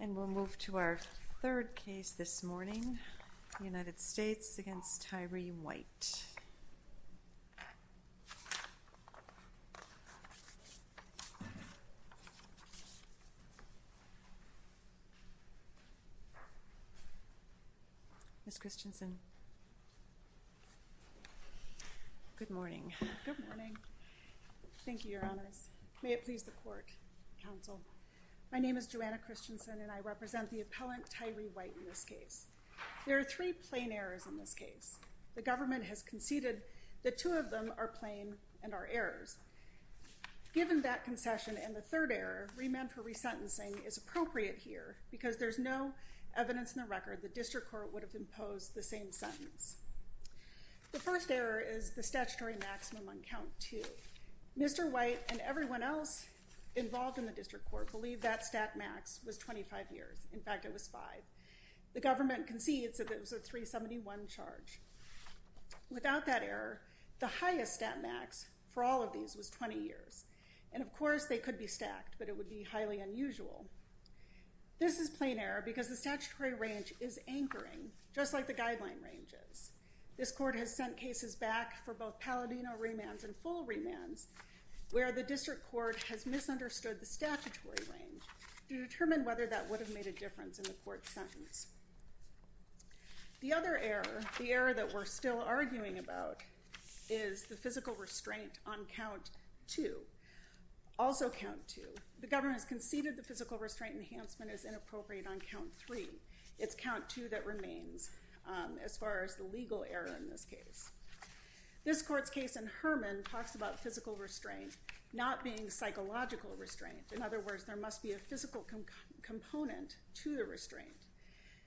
And we'll move to our third case this morning the United States against Tyree White. Miss Christensen. Good morning. Good morning. Thank you, Your Honor. May it My name is Joanna Christensen and I represent the appellant Tyree White in this case. There are three plain errors in this case. The government has conceded that two of them are plain and are errors. Given that concession and the third error, remand for resentencing is appropriate here because there's no evidence in the record the district court would have imposed the same sentence. The first error is the statutory maximum on count two. Mr. White and everyone else involved in the district court believe that stat max was 25 years. In fact, it was five. The government concedes that it was a 371 charge. Without that error, the highest stat max for all of these was 20 years. And of course, they could be stacked, but it would be highly unusual. This is plain error because the statutory range is anchoring just like the guideline ranges. This court has sent cases back for both Palladino remands and full remands where the district court has misunderstood the statutory range to determine whether that would have made a difference in the court's sentence. The other error, the error that we're still arguing about, is the physical restraint on count two. Also count two. The government has conceded the physical restraint enhancement is inappropriate on count three. It's count two that remains as far as the legal error in this case. This court talks about physical restraint not being psychological restraint. In other words, there must be a physical component to the restraint.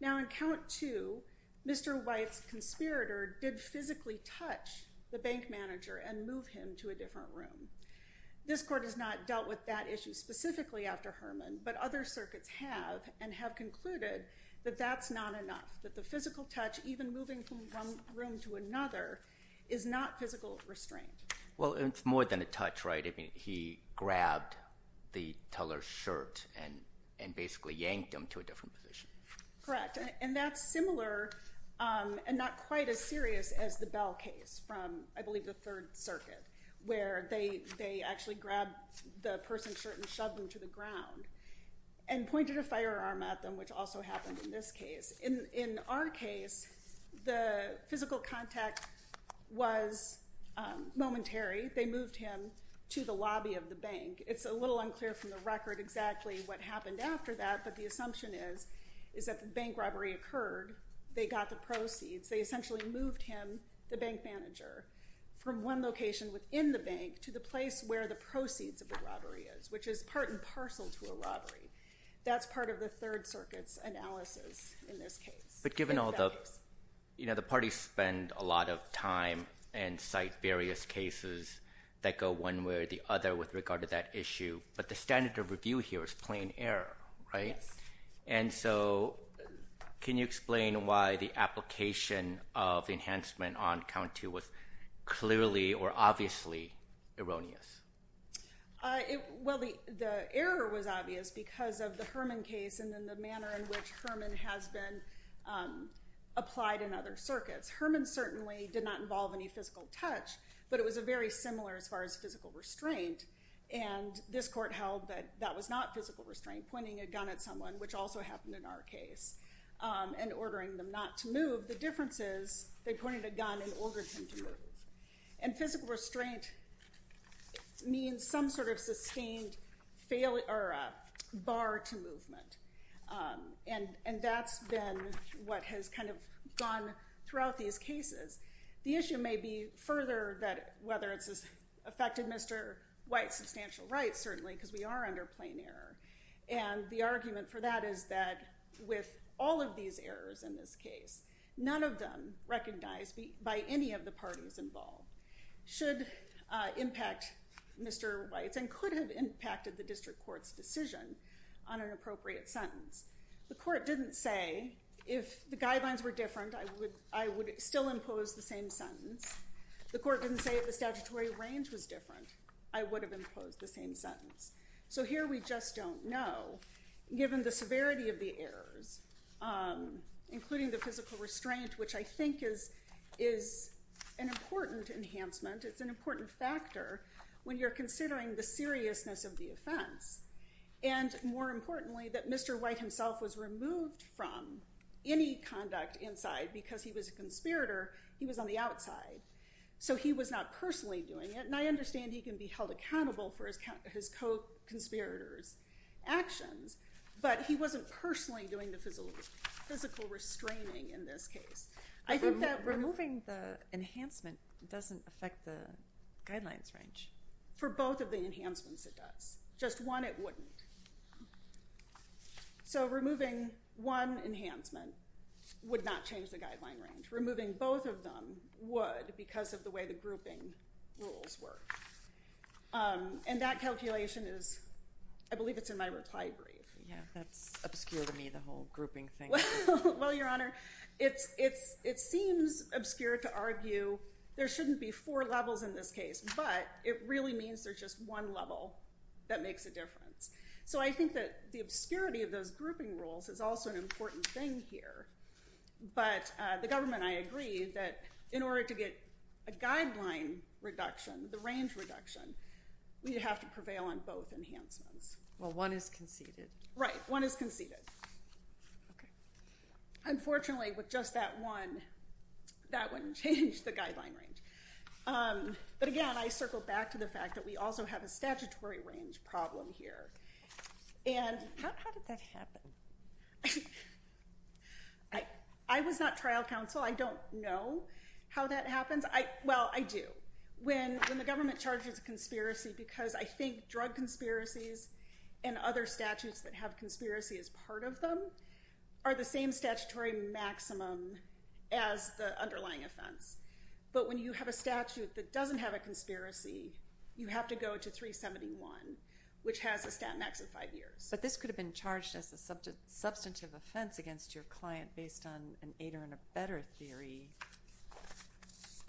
Now in count two, Mr. White's conspirator did physically touch the bank manager and move him to a different room. This court has not dealt with that issue specifically after Herman, but other circuits have and have concluded that that's not enough, that the physical touch, even moving from one room to another, is not physical restraint. Well, it's more than a touch, right? I mean, he grabbed the teller's shirt and basically yanked him to a different position. Correct. And that's similar and not quite as serious as the Bell case from, I believe, the Third Circuit, where they actually grabbed the person's shirt and shoved them to the ground and pointed a firearm at them, which also happened in this case. In our case, the physical contact was momentary. They moved him to the lobby of the bank. It's a little unclear from the record exactly what happened after that, but the assumption is that the bank robbery occurred. They got the proceeds. They essentially moved him, the bank manager, from one location within the bank to the place where the proceeds of the robbery is, which is part and parcel to a Third Circuit's analysis in this case. But given all the, you know, the parties spend a lot of time and cite various cases that go one way or the other with regard to that issue, but the standard of review here is plain error, right? Yes. And so, can you explain why the application of enhancement on count two was clearly or obviously erroneous? Well, the error was obvious because of the Herman case and then the manner in which Herman has been applied in other circuits. Herman certainly did not involve any physical touch, but it was very similar as far as physical restraint. And this court held that that was not physical restraint, pointing a gun at someone, which also happened in our case, and ordering them not to move. The difference is they pointed a gun and ordered him to move. And physical restraint means some sort of sustained failure or a bar to movement. And that's been what has kind of gone throughout these cases. The issue may be further that whether it's affected Mr. White's substantial rights, certainly, because we are under plain error. And the argument for that is that with all of these errors in this case, none of them recognized by any of the parties involved should impact Mr. White's and could have impacted the district court's decision on an appropriate sentence. The court didn't say if the guidelines were different I would still impose the same sentence. The court didn't say if the statutory range was different, I would have imposed the same sentence. So here we just don't know, given the severity of the errors, including the physical restraint, which I think is an important enhancement. It's an important factor when you're considering the seriousness of the offense. And more importantly, that Mr. White himself was removed from any conduct inside because he was a conspirator. He was on the outside. So he was not personally doing it. And I understand he can be held accountable for his co-conspirator's actions, but he wasn't personally doing the physical restraining in this case. I think that removing the enhancement doesn't affect the guidelines range. For both of the enhancements it does. Just one it wouldn't. So removing one enhancement would not change the guideline range. Removing both of them would because of the way the grouping rules work. And that calculation is, I believe it's in my reply brief. Yeah, that's obscure to me, the whole grouping thing. Well, Your Honor, it seems obscure to argue there shouldn't be four levels in this case, but it really means there's just one level that makes a difference. So I think that the obscurity of those grouping rules is also an important thing here. But the government and I agree that in order to get a guideline reduction, the range reduction, we have to prevail on both enhancements. Well, one is conceded. Right, one is conceded. Unfortunately, with just that one, that wouldn't change the guideline range. But again, I circle back to the fact that we also have a statutory range problem here. How did that happen? I was not trial counsel. I don't know how that happens. Well, I do. When the government charges a conspiracy because I think drug conspiracies and other statutes that have conspiracy as part of them are the same statutory maximum as the underlying offense. But when you have a statute that doesn't have a conspiracy, you have to go to 371, which has a stat max of five years. But this could have been charged as a substantive offense against your client based on an eight or better theory.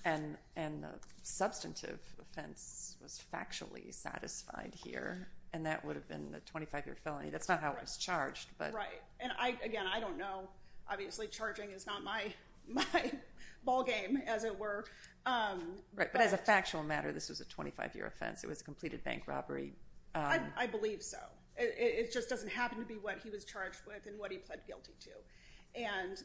And the substantive offense was factually satisfied here, and that would have been the 25-year felony. That's not how it was charged. Right. And again, I don't know. Obviously, charging is not my ballgame, as it were. Right. But as a factual matter, this was a 25-year offense. It was a completed bank robbery. I believe so. It just doesn't happen to be what he was charged with and what he pled guilty to. And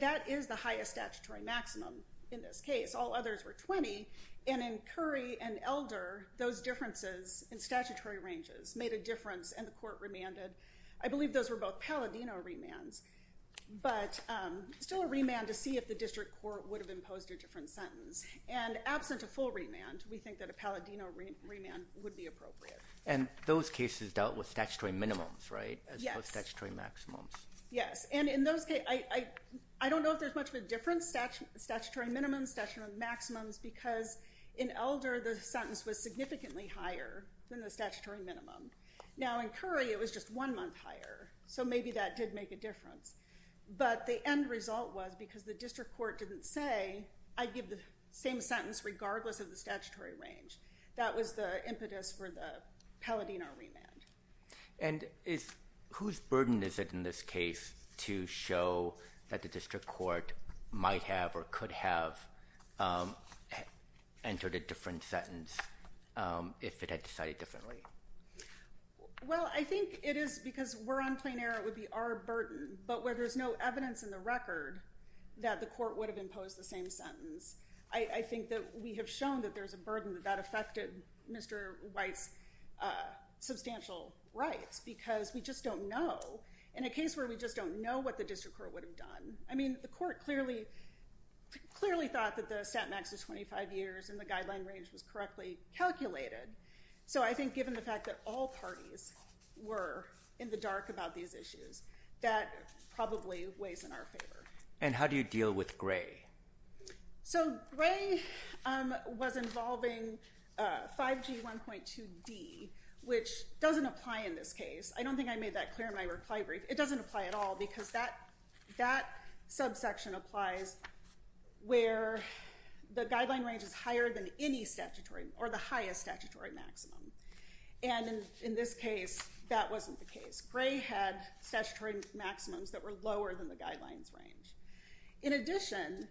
that is the highest statutory maximum in this case. All others were 20. And in Curry and Elder, those differences in statutory ranges made a difference, and the court remanded. I believe those were both Palladino remands, but still a remand to see if the district court would have imposed a different sentence. And absent a full remand, we think that a Palladino remand would be appropriate. And those cases dealt with statutory minimums, right, as opposed to statutory maximums? Yes. And in those cases, I don't know if there's much of a difference, statutory minimums, statutory maximums, because in Elder, the sentence was significantly higher than the statutory minimum. Now, in Curry, it was just one month higher, so maybe that did make a difference. But the result was, because the district court didn't say, I'd give the same sentence regardless of the statutory range. That was the impetus for the Palladino remand. And whose burden is it in this case to show that the district court might have or could have entered a different sentence if it had decided differently? Well, I think it is, because we're on plain error, it would be our burden. But where there's no evidence in the record that the court would have imposed the same sentence, I think that we have shown that there's a burden that that affected Mr. White's substantial rights, because we just don't know. In a case where we just don't know what the district court would have done, I mean, the court clearly thought that the set max of 25 years and the guideline range was correctly calculated. So I think given the fact that all parties were in the dark about these issues, that probably weighs in our favor. And how do you deal with Gray? So Gray was involving 5G 1.2D, which doesn't apply in this case. I don't think I made that clear in my reply brief. It doesn't apply at all, because that subsection applies where the guideline range is higher than any statutory or the highest statutory maximum. And in this case, that wasn't the case. Gray had statutory maximums that were lower than the guidelines range. In addition,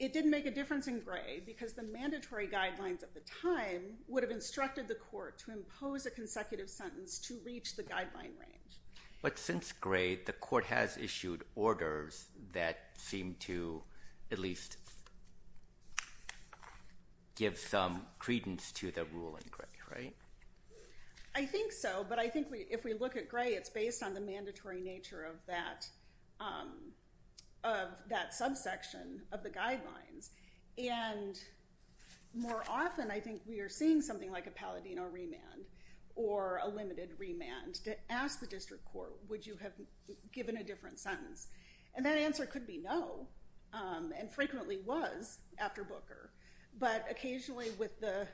it didn't make a difference in Gray, because the mandatory guidelines at the time would have instructed the court to impose a consecutive sentence to reach the guideline range. But since Gray, the court has issued orders that seem to at least give some credence to the rule in Gray, right? I think so. But I think if we look at Gray, it's based on the mandatory nature of that subsection of the guidelines. And more often, I think we are seeing something like a Palladino remand or a limited remand to ask the district court, would you have given a different sentence? And that answer could be no, and frequently was after Booker. But occasionally with the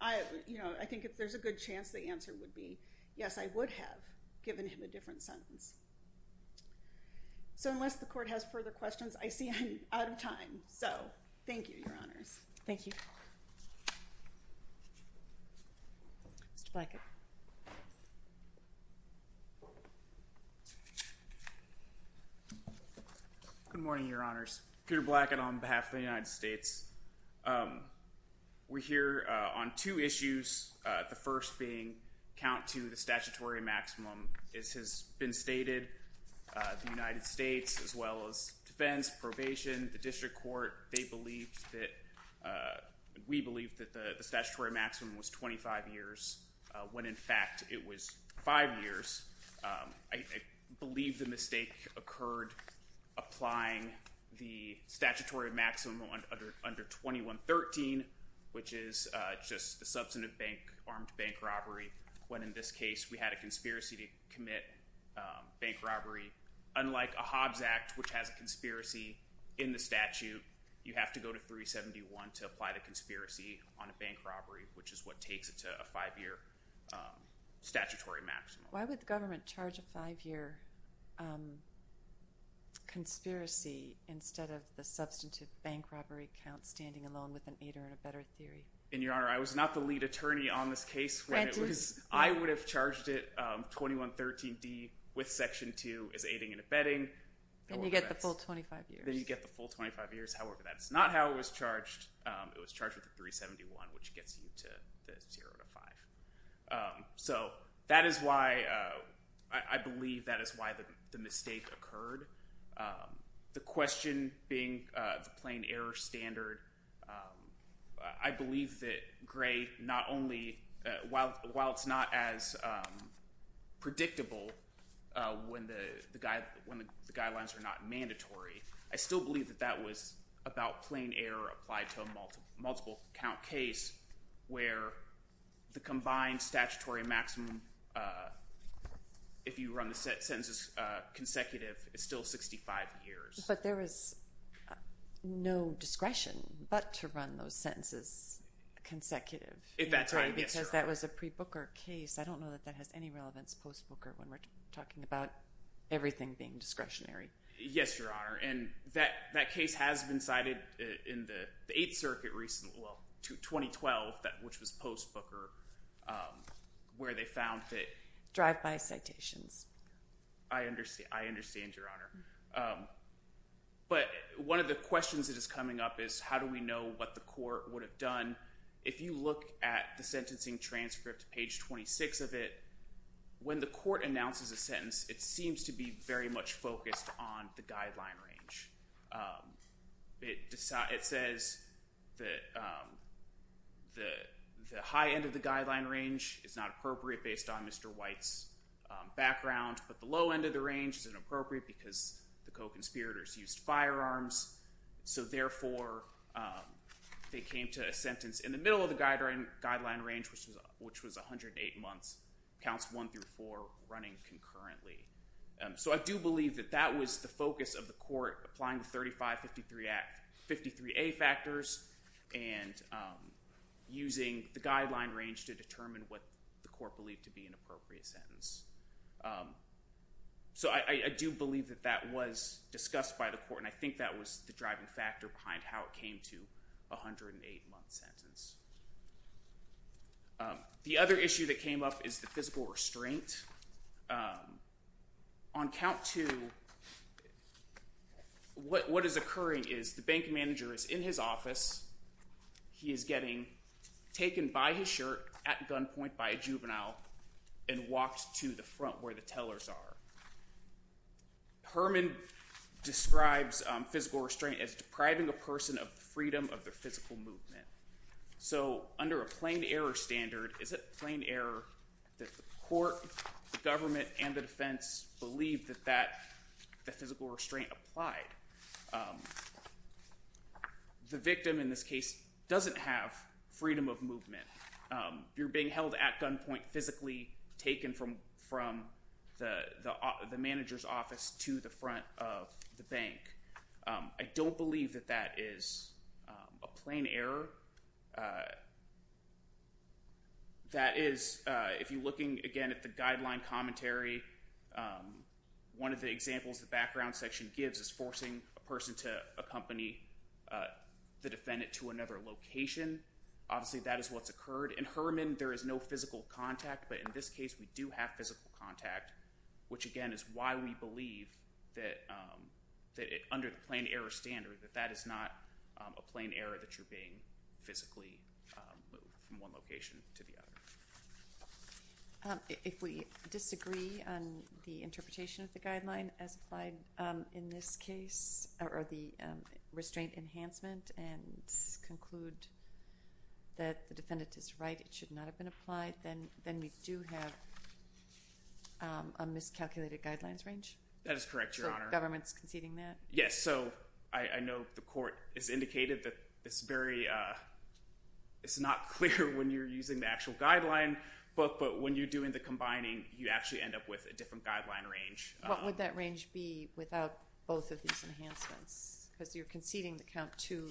I think if there's a good chance, the answer would be, yes, I would have given him a different sentence. So unless the court has further questions, I see I'm out of time. So thank you, Your Honors. Thank you. Mr. Blackett. Good morning, Your Honors. Peter Blackett on behalf of the United States. We're here on two issues, the first being, count to the statutory maximum. This has been stated. The United States, as well as defense, probation, the district court, they believe that, we believe that the statutory maximum was 25 years, when in fact it was five years. I believe the mistake occurred applying the statutory maximum under 2113, which is just the substantive bank armed bank robbery, when in this case we had a conspiracy to commit bank robbery. Unlike a Hobbs Act, which has a conspiracy in the statute, you have to go to 371 to apply the conspiracy on a bank robbery, which is what takes it to a five year statutory maximum. Why would the government charge a five year conspiracy, instead of the substantive bank robbery count, standing alone with an aider and abetter theory? And Your Honor, I was not the lead attorney on this case. I would have charged it 2113D with section two, as aiding and abetting. Then you get the full 25 years. Then you get the full 25 years. However, that's not how it was charged. It was charged with under 371, which gets you to the zero to five. So, that is why, I believe that is why the mistake occurred. The question being the plain error standard, I believe that Gray, not only, while it's not as predictable when the guidelines are not mandatory, I still believe that that was about plain error applied to a multiple count case, where the combined statutory maximum, if you run the sentences consecutive, is still 65 years. But there was no discretion but to run those sentences consecutive, because that was a pre-Booker case. I don't know that that has any relevance post-Booker, when we're talking about everything being discretionary. Yes, Your Honor. And that case has been cited in the Eighth Circuit recently, well, 2012, which was post-Booker, where they found that... Drive-by citations. I understand, Your Honor. But one of the questions that is coming up is, how do we know what the court would have done? If you look at the sentencing transcript, page 26 of it, when the court announces a sentence, it seems to be very much focused on the guideline range. It says that the high end of the guideline range is not appropriate based on Mr. White's background, but the low end of the range is inappropriate because the co-conspirators used firearms. So therefore, they came to a sentence in the middle of the guideline range, which was 108 months, counts 1 through 4, running concurrently. So I do believe that that was the focus of the court, applying the 3553A factors and using the guideline range to determine what the court believed to be an appropriate sentence. So I do believe that that was discussed by the court, and I think that was the driving factor behind how it came to a 108-month sentence. The other issue that came up is the physical restraint. On count 2, what is occurring is the bank manager is in his office. He is getting taken by his shirt at gunpoint by a juvenile and walked to the front where the tellers are. Herman describes physical restraint as depriving a person of the freedom of their physical movement. So under a plain error standard, is it plain error that the court, the government, and the defense believe that that physical restraint applied? The victim in this case doesn't have freedom of movement. You're being held at gunpoint physically, taken from the manager's office to the front of the bank. I don't believe that that is a plain error. That is, if you're looking again at the guideline commentary, one of the examples the background section gives is forcing a person to accompany the defendant to another location. Obviously that is what has occurred. In Herman, there is no physical contact, but in this case we do have physical contact, which again is why we believe that under the plain error standard that that is not a plain error that you're being physically moved from one location to the other. If we disagree on the interpretation of the guideline as applied in this case, or the restraint enhancement, and conclude that the defendant is right, it should not have been a miscalculated guidelines range? That is correct, Your Honor. So the government is conceding that? Yes, so I know the court has indicated that it's not clear when you're using the actual guideline book, but when you're doing the combining, you actually end up with a different guideline range. What would that range be without both of these enhancements? Because you're conceding that count 2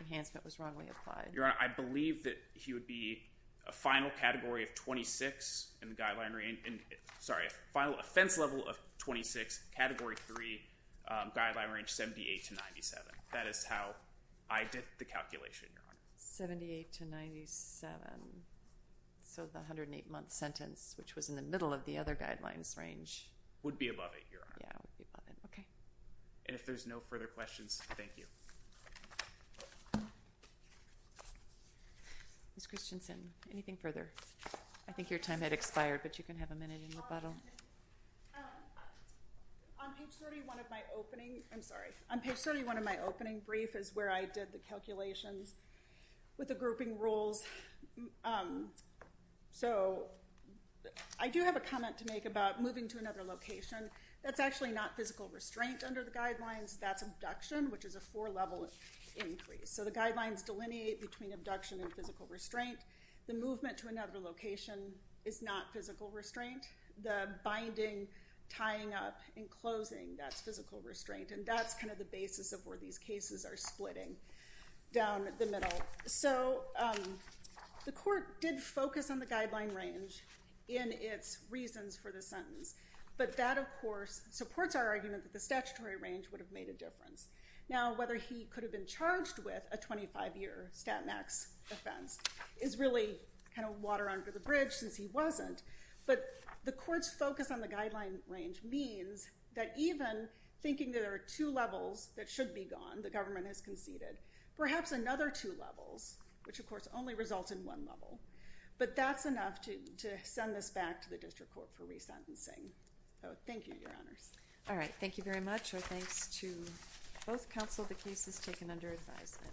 enhancement was wrongly applied. Your Honor, I believe that he would be a final offense level of 26, category 3, guideline range 78-97. That is how I did the calculation, Your Honor. 78-97, so the 108 month sentence, which was in the middle of the other guidelines range. Would be above it, Your Honor. And if there's no further questions, thank you. Ms. Christensen, anything further? I think your time had expired, but you can have a minute in rebuttal. On page 31 of my opening, I'm sorry, on page 31 of my opening brief is where I did the calculations with the grouping rules. So I do have a comment to make about moving to another location. That's actually not physical restraint under the guidelines. That's abduction, which is a four level increase. So the guidelines delineate between abduction and physical restraint. The movement to another location is not physical restraint. The binding, tying up, and closing, that's physical restraint. And that's kind of the basis of where these cases are splitting down the middle. So the court did focus on the guideline range in its reasons for the sentence. But that, of course, supports our argument that the statutory range would have made a difference. Now, whether he could have been charged with a 25 year stat max offense is really kind of water under the bridge, since he wasn't. But the court's focus on the guideline range means that even thinking there are two levels that should be gone, the government has conceded, perhaps another two levels, which of course only results in one level. But that's enough to send this back to the district court for resentencing. Thank you, Your Honors. All right. Thank you very much. Our thanks to both counsel. The case is taken under advisement.